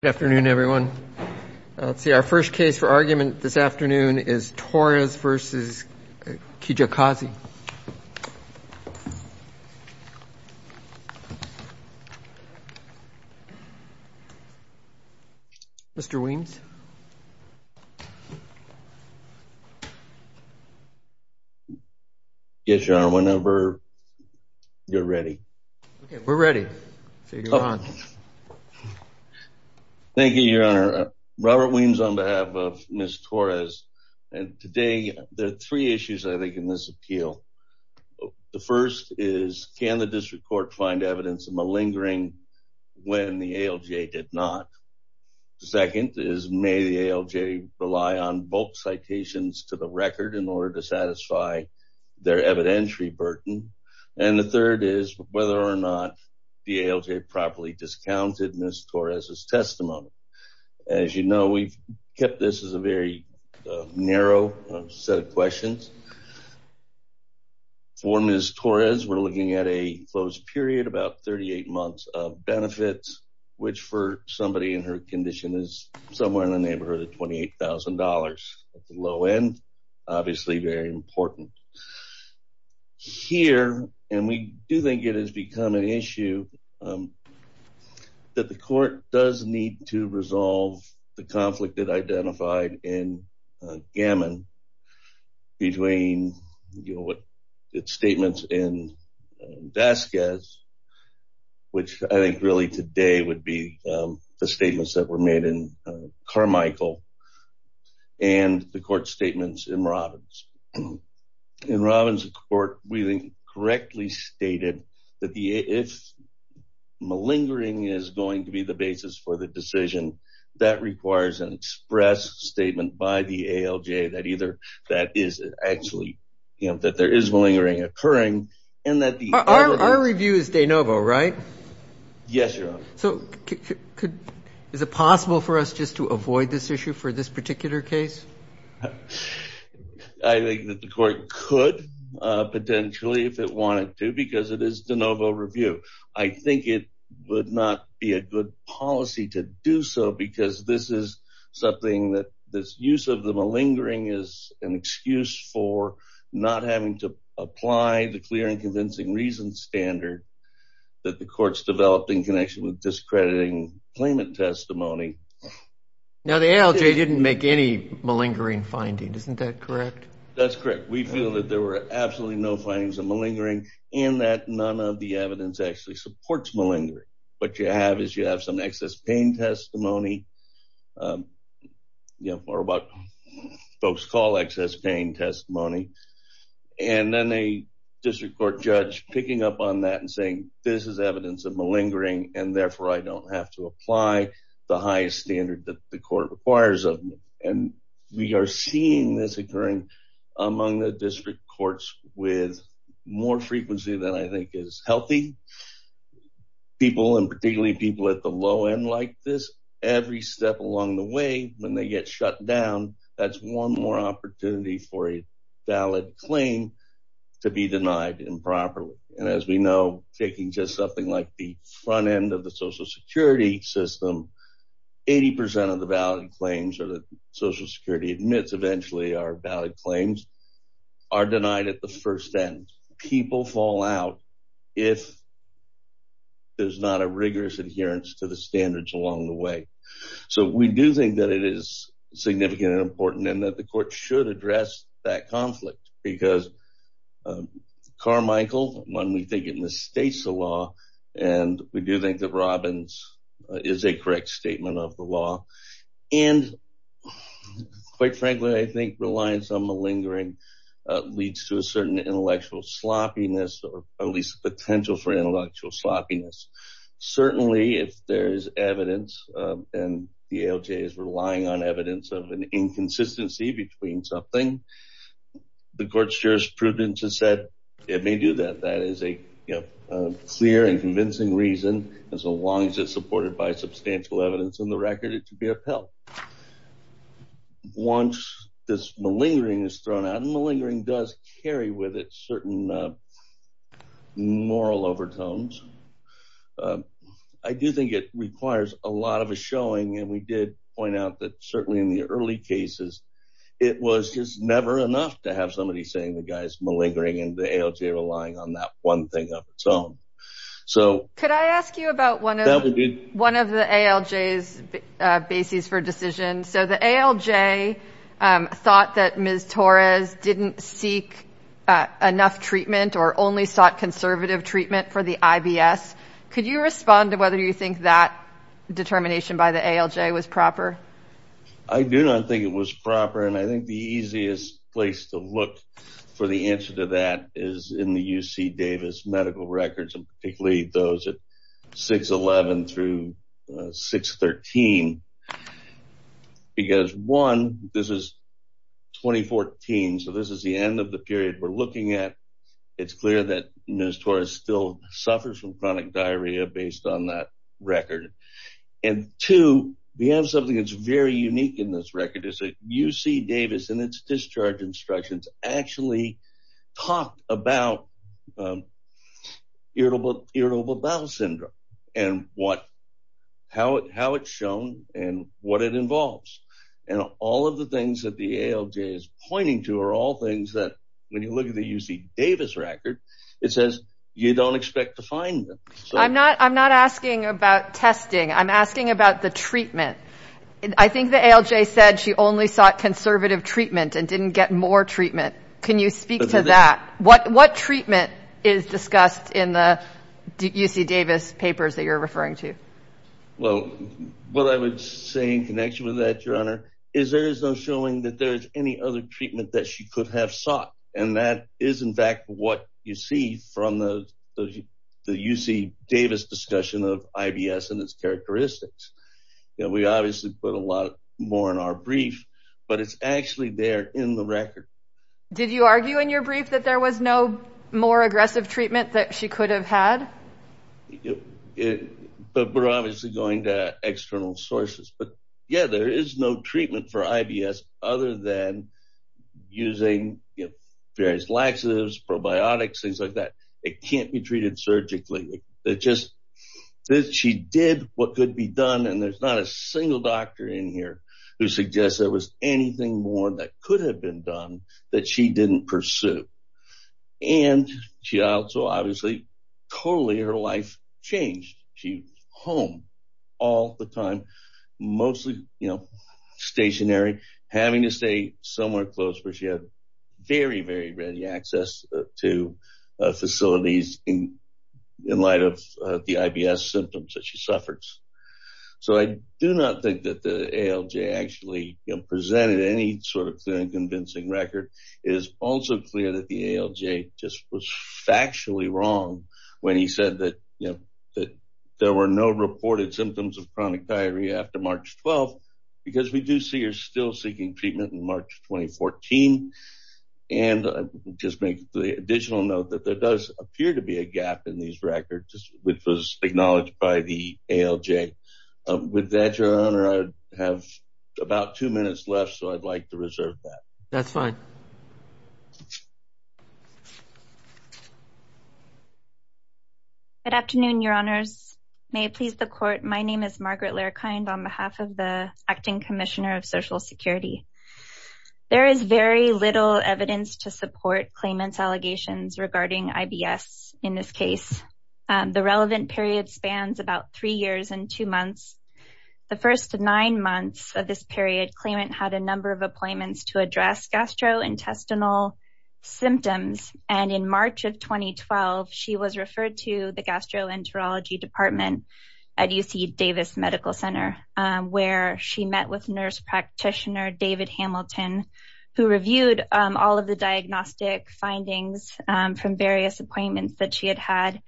Good afternoon everyone. Let's see, our first case for argument this afternoon is Torres v. Kijakazi. Mr. Weems. Yes, Your Honor, whenever you're ready. We're ready. So you can go on. Thank you, Your Honor. Robert Weems on behalf of Ms. Torres. And today, there are three issues I think in this appeal. The first is, can the district court find evidence of malingering when the ALJ did not? The second is, may the ALJ rely on bulk citations to the record in order to satisfy their evidentiary burden? And the third is, whether or not the ALJ properly discounted Ms. Torres' testimony? As you know, we've kept this as a very narrow set of questions. For Ms. Torres, we're looking at a closed period, about 38 months of benefits, which for somebody in her condition is somewhere in the neighborhood of $28,000. At the low end, obviously very important. Here, and we do think it has become an issue, that the court does need to resolve the conflict it identified in Gammon between its statements in Vasquez, which I think really today would be the statements that were made in Carmichael, and the court statements in Robbins. In Robbins, the court really correctly stated that if malingering is going to be the basis for the decision, that requires an express statement by the ALJ that either that is actually, that there is malingering occurring, and that the... Our review is De Novo, right? Yes, Your Honor. So, is it possible for us just to avoid this issue for this particular case? I think that the court could, potentially, if it wanted to, because it is De Novo review. I think it would not be a good policy to do so, because this is something that this use of the malingering is an excuse for, not having to apply the clear and convincing reason standard that the courts developed in connection with discrediting claimant testimony. Now, the ALJ didn't make any malingering findings, isn't that correct? That's correct. We feel that there were absolutely no findings of malingering, and that none of the evidence actually supports malingering. What you have is you have some excess pain testimony, or what folks call excess pain testimony, and then a district court judge picking up on that and saying, this is evidence of malingering, and therefore, I don't have to apply the highest standard that the court requires of me. And we are seeing this occurring among the district courts with more frequency than I think is healthy. People, and particularly people at the low end like this, every step along the way, when they get shut down, that's one more opportunity for a valid claim to be denied improperly. And as we know, taking just something like the front end of the social security system, 80% of the valid claims that social security admits eventually are valid claims are denied at the first end. People fall out if there's not a rigorous adherence to the standards along the way. So we do think that it is significant and important and that the court should address that conflict because Carmichael, when we think it misstates the law, and we do think that Robbins is a correct statement of the law. And quite frankly, I think reliance on malingering leads to a certain intellectual sloppiness, or at least potential for intellectual sloppiness. Certainly, if there's evidence and the ALJ is relying on evidence of an inconsistency between something, the court's jurisprudence has said it may do that. That is a clear and convincing reason, as long as it's supported by substantial evidence in the record, it should be upheld. Once this malingering is thrown out, and malingering does carry with it certain moral overtones, I do think it requires a lot of a showing, and we did point out that certainly in the early cases, it was just never enough to have somebody saying the guy's malingering and the ALJ relying on that one thing of its own. Could I ask you about one of the ALJ's bases for decision? So the ALJ thought that Ms. Torres didn't seek enough treatment or only sought conservative treatment for the IBS. Could you respond to whether you think that determination by the ALJ was proper? I do not think it was proper, and I think the easiest place to look for the answer to that is in the UC Davis medical records, and particularly those at 6-11 through 6-13. Because, one, this is 2014, so this is the end of the period we're looking at. It's clear that Ms. Torres still suffers from chronic diarrhea based on that record. And, two, we have something that's very unique in this record. It's that UC Davis and its discharge instructions actually talk about irritable bowel syndrome and how it's shown and what it involves. And all of the things that the ALJ is pointing to are all things that, when you look at the UC Davis record, it says you don't expect to find them. I'm not asking about testing. I'm asking about the treatment. I think the ALJ said she only sought conservative treatment and didn't get more treatment. Can you speak to that? What treatment is discussed in the UC Davis papers that you're referring to? Well, what I would say in connection with that, Your Honor, is there is no showing that there is any other treatment that she could have sought. And that is, in fact, what you see from the UC Davis discussion of IBS and its characteristics. We obviously put a lot more in our brief, but it's actually there in the record. Did you argue in your brief that there was no more aggressive treatment that she could have had? We're obviously going to external sources. But, yeah, there is no treatment for IBS other than using various laxatives, probiotics, things like that. It can't be treated surgically. She did what could be done, and there's not a single doctor in here who suggests there was anything more that could have been done that she didn't pursue. And she also, obviously, totally her life changed. She's home all the time, mostly stationary, having to stay somewhere close where she had very, very ready access to facilities in light of the IBS symptoms that she suffers. So I do not think that the ALJ actually presented any sort of convincing record. It is also clear that the ALJ just was factually wrong when he said that there were no reported symptoms of chronic diarrhea after March 12th because we do see her still seeking treatment in March 2014. And I'll just make the additional note that there does appear to be a gap in these records, which was acknowledged by the ALJ. With that, Your Honor, I have about two minutes left, so I'd like to reserve that. That's fine. Good afternoon, Your Honors. May it please the Court, my name is Margaret Lerkind, on behalf of the Acting Commissioner of Social Security. There is very little evidence to support claimant's allegations regarding IBS in this case. The relevant period spans about three years and two months. The first nine months of this period, claimant had a number of appointments to address gastrointestinal symptoms, and in March of 2012, she was referred to the gastroenterology department at UC Davis Medical Center where she met with nurse practitioner David Hamilton, who reviewed all of the diagnostic findings from various appointments that she had had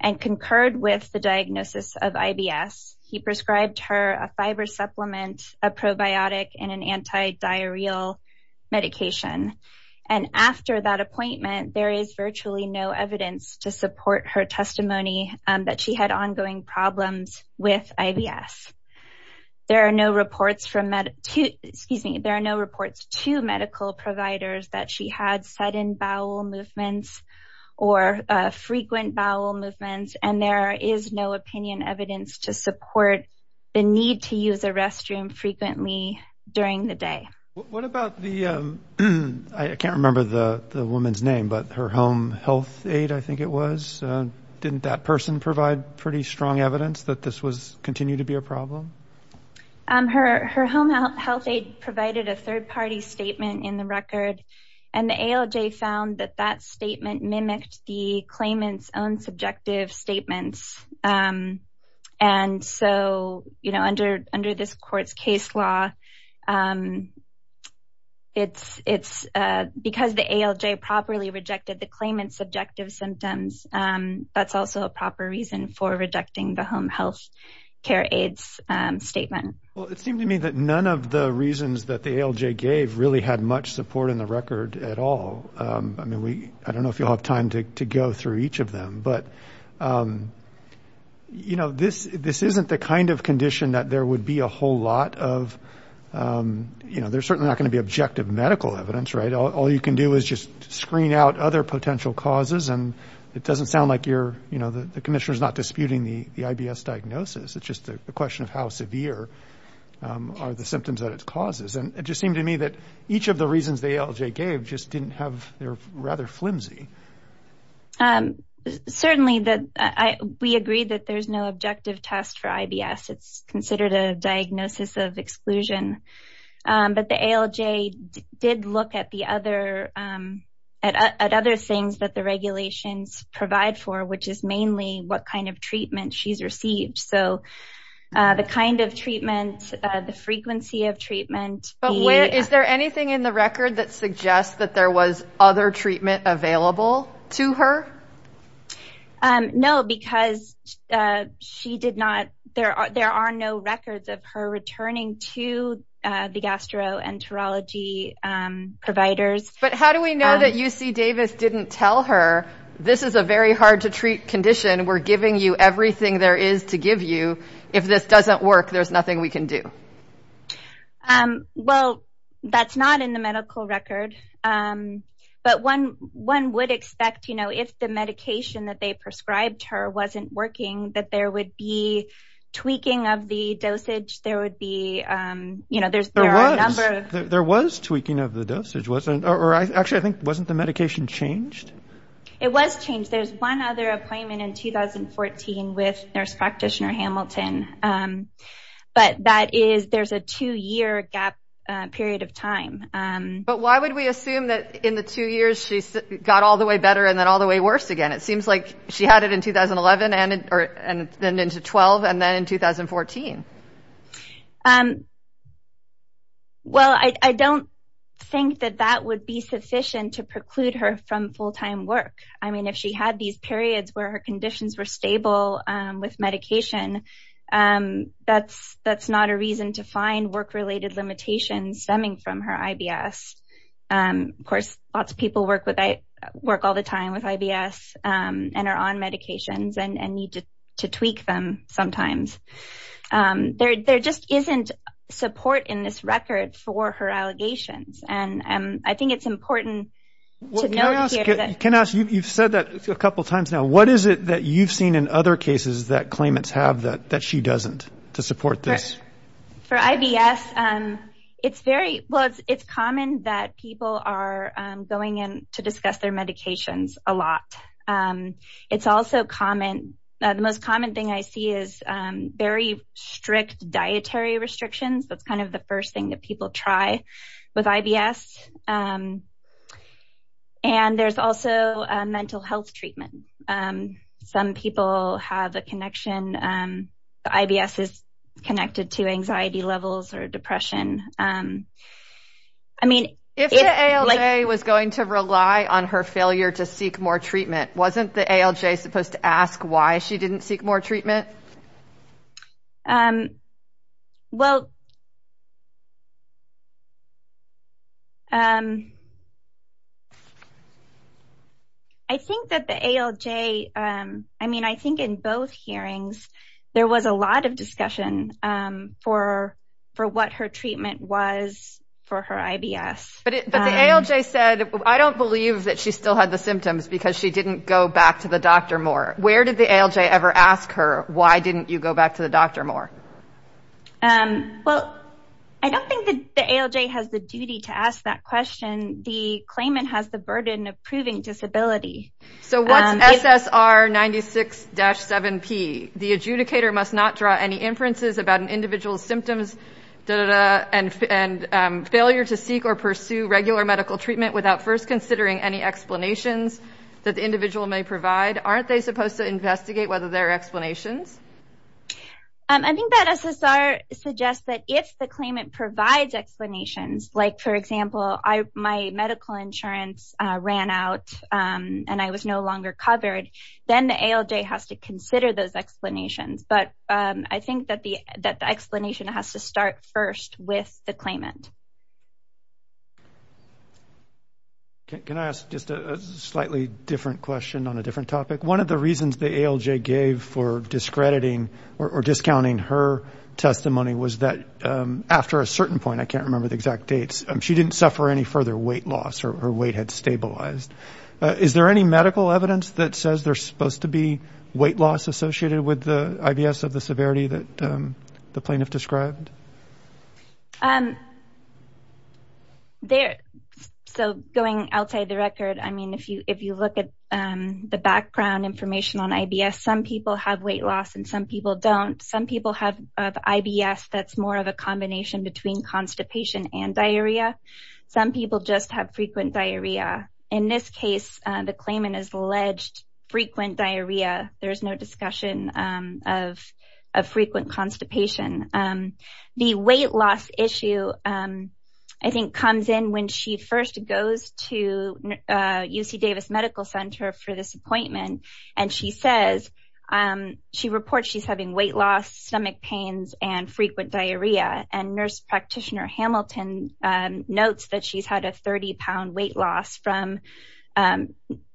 and concurred with the diagnosis of IBS. He prescribed her a fiber supplement, a probiotic, and an antidiarrheal medication. And after that appointment, there is virtually no evidence to support her testimony that she had ongoing problems with IBS. There are no reports to medical providers that she had sudden bowel movements or frequent bowel movements, and there is no opinion evidence to support the need to use a restroom frequently during the day. What about the, I can't remember the woman's name, but her home health aide, I think it was, didn't that person provide pretty strong evidence that this continued to be a problem? And the ALJ found that that statement mimicked the claimant's own subjective statements. And so, you know, under this court's case law, because the ALJ properly rejected the claimant's subjective symptoms, that's also a proper reason for rejecting the home health care aide's statement. Well, it seemed to me that none of the reasons that the ALJ gave really had much support in the record at all. I mean, I don't know if you'll have time to go through each of them. But, you know, this isn't the kind of condition that there would be a whole lot of, you know, there's certainly not going to be objective medical evidence, right? All you can do is just screen out other potential causes, and it doesn't sound like the commissioner is not disputing the IBS diagnosis. It's just a question of how severe are the symptoms that it causes. And it just seemed to me that each of the reasons the ALJ gave just didn't have, they were rather flimsy. Certainly, we agree that there's no objective test for IBS. It's considered a diagnosis of exclusion. But the ALJ did look at other things that the regulations provide for, which is mainly what kind of treatment she's received. So the kind of treatment, the frequency of treatment. But is there anything in the record that suggests that there was other treatment available to her? No, because there are no records of her returning to the gastroenterology providers. But how do we know that UC Davis didn't tell her, this is a very hard-to-treat condition. We're giving you everything there is to give you. If this doesn't work, there's nothing we can do. Well, that's not in the medical record. But one would expect, you know, if the medication that they prescribed her wasn't working, that there would be tweaking of the dosage. There would be, you know, there are a number of – Actually, I think, wasn't the medication changed? It was changed. There's one other appointment in 2014 with Nurse Practitioner Hamilton. But that is, there's a two-year gap period of time. But why would we assume that in the two years she got all the way better and then all the way worse again? It seems like she had it in 2011 and then into 2012 and then in 2014. Well, I don't think that that would be sufficient to preclude her from full-time work. I mean, if she had these periods where her conditions were stable with medication, that's not a reason to find work-related limitations stemming from her IBS. Of course, lots of people work all the time with IBS and are on medications and need to tweak them sometimes. There just isn't support in this record for her allegations. And I think it's important to note here that – Well, can I ask – you've said that a couple times now. What is it that you've seen in other cases that claimants have that she doesn't, to support this? For IBS, it's very – well, it's common that people are going in to discuss their medications a lot. It's also common – the most common thing I see is very strict dietary restrictions. That's kind of the first thing that people try with IBS. And there's also mental health treatment. Some people have a connection. The IBS is connected to anxiety levels or depression. If the ALJ was going to rely on her failure to seek more treatment, wasn't the ALJ supposed to ask why she didn't seek more treatment? I think that the ALJ – I mean, I think in both hearings, there was a lot of discussion for what her treatment was for her IBS. But the ALJ said, I don't believe that she still had the symptoms because she didn't go back to the doctor more. Where did the ALJ ever ask her, why didn't you go back to the doctor more? Well, I don't think the ALJ has the duty to ask that question. The claimant has the burden of proving disability. So what's SSR 96-7P? The adjudicator must not draw any inferences about an individual's symptoms and failure to seek or pursue regular medical treatment without first considering any explanations that the individual may provide. Aren't they supposed to investigate whether there are explanations? I think that SSR suggests that if the claimant provides explanations, like, for example, my medical insurance ran out and I was no longer covered, then the ALJ has to consider those explanations. But I think that the explanation has to start first with the claimant. Can I ask just a slightly different question on a different topic? One of the reasons the ALJ gave for discrediting or discounting her testimony was that after a certain point – I can't remember the exact dates – she didn't suffer any further weight loss or her weight had stabilized. Is there any medical evidence that says there's supposed to be weight loss associated with the IBS of the severity that the plaintiff described? Going outside the record, if you look at the background information on IBS, some people have weight loss and some people don't. Some people have IBS that's more of a combination between constipation and diarrhea. Some people just have frequent diarrhea. In this case, the claimant has alleged frequent diarrhea. There's no discussion of frequent constipation. The weight loss issue, I think, comes in when she first goes to UC Davis Medical Center for this appointment, and she says – she reports she's having weight loss, stomach pains, and frequent diarrhea. Nurse practitioner Hamilton notes that she's had a 30-pound weight loss from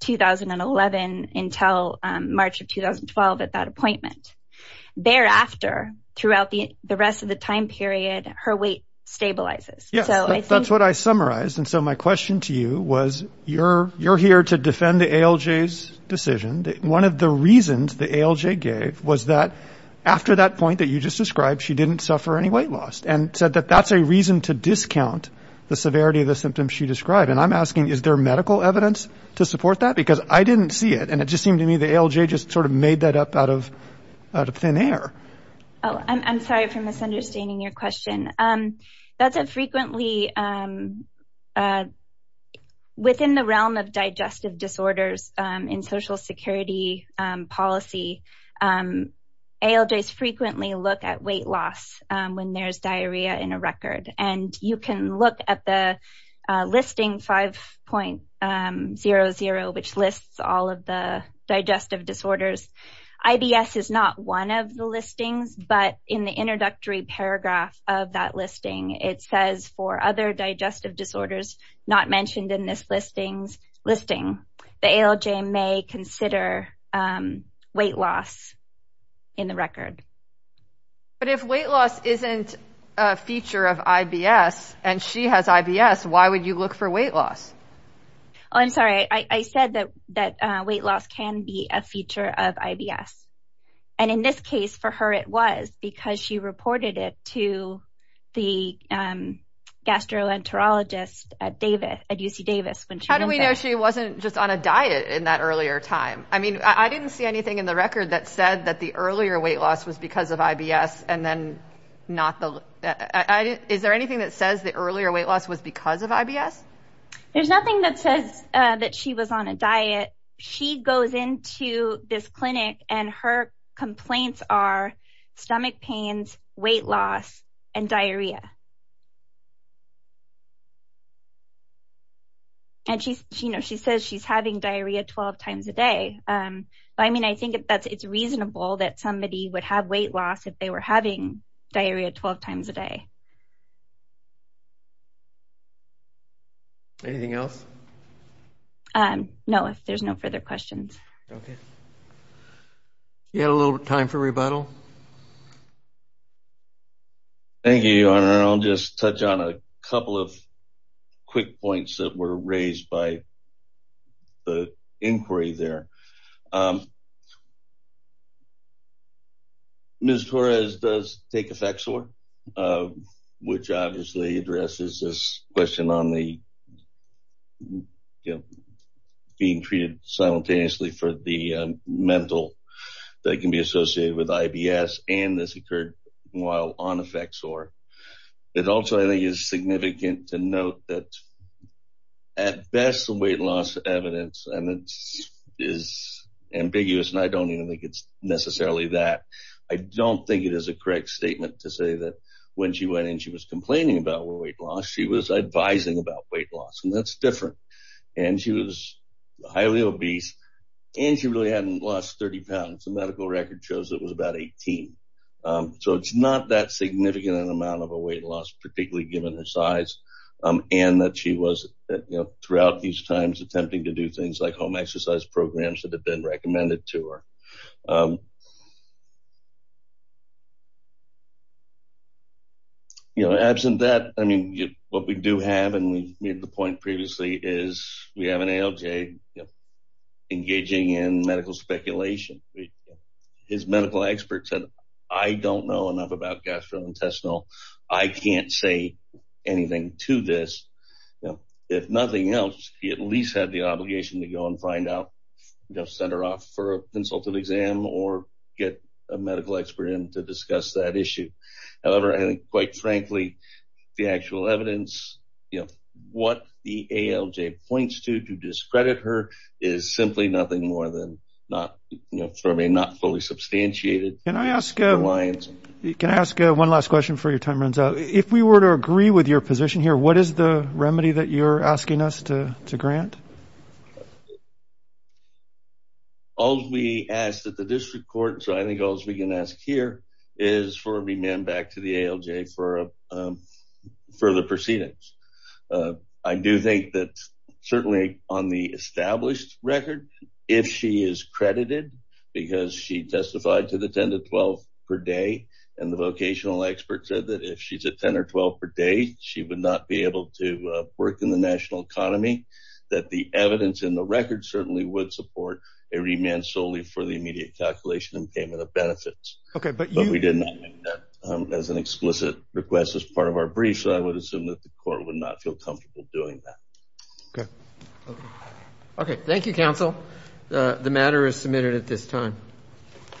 2011 until March of 2012 at that appointment. Thereafter, throughout the rest of the time period, her weight stabilizes. That's what I summarized. My question to you was you're here to defend the ALJ's decision. One of the reasons the ALJ gave was that after that point that you just described, she didn't suffer any weight loss, and said that that's a reason to discount the severity of the symptoms she described. I'm asking is there medical evidence to support that because I didn't see it, and it just seemed to me the ALJ just sort of made that up out of thin air. I'm sorry for misunderstanding your question. Within the realm of digestive disorders in Social Security policy, ALJs frequently look at weight loss when there's diarrhea in a record. You can look at the listing 5.00, which lists all of the digestive disorders. IBS is not one of the listings, but in the introductory paragraph of that listing, it says for other digestive disorders not mentioned in this listing, the ALJ may consider weight loss in the record. But if weight loss isn't a feature of IBS, and she has IBS, why would you look for weight loss? I'm sorry. I said that weight loss can be a feature of IBS. In this case, for her it was because she reported it to the gastroenterologist at UC Davis. How do we know she wasn't just on a diet in that earlier time? I didn't see anything in the record that said that the earlier weight loss was because of IBS. Is there anything that says the earlier weight loss was because of IBS? There's nothing that says that she was on a diet. She goes into this clinic, and her complaints are stomach pains, weight loss, and diarrhea. And she says she's having diarrhea 12 times a day. I mean, I think it's reasonable that somebody would have weight loss if they were having diarrhea 12 times a day. Anything else? No, if there's no further questions. Okay. We have a little time for rebuttal. Thank you, Your Honor. I'll just touch on a couple of quick points that were raised by the inquiry there. Ms. Torres does take Effexor, which obviously addresses this question on being treated simultaneously for the mental that can be associated with IBS, and this occurred while on Effexor. It also, I think, is significant to note that, at best, the weight loss evidence is ambiguous, and I don't even think it's necessarily that. I don't think it is a correct statement to say that when she went in, she was complaining about weight loss. She was advising about weight loss, and that's different. And she was highly obese, and she really hadn't lost 30 pounds. The medical record shows it was about 18. So it's not that significant an amount of a weight loss, particularly given her size, and that she was throughout these times attempting to do things like home exercise programs that had been recommended to her. Absent that, what we do have, and we made the point previously, is we have an ALJ engaging in medical speculation. His medical expert said, I don't know enough about gastrointestinal. I can't say anything to this. If nothing else, he at least had the obligation to go and find out, send her off for a consultative exam or get a medical expert in to discuss that issue. However, I think, quite frankly, the actual evidence, you know, what the ALJ points to to discredit her is simply nothing more than not fully substantiated. Can I ask one last question before your time runs out? If we were to agree with your position here, what is the remedy that you're asking us to grant? All we ask that the district court, so I think all we can ask here, is for a remand back to the ALJ for further proceedings. I do think that certainly on the established record, if she is credited because she testified to the 10 to 12 per day, and the vocational expert said that if she's at 10 or 12 per day, she would not be able to work in the national economy, that the evidence in the record certainly would support a remand solely for the immediate calculation and payment of benefits. But we did not make that as an explicit request as part of our brief, so I would assume that the court would not feel comfortable doing that. Okay. Thank you, counsel. The matter is submitted at this time.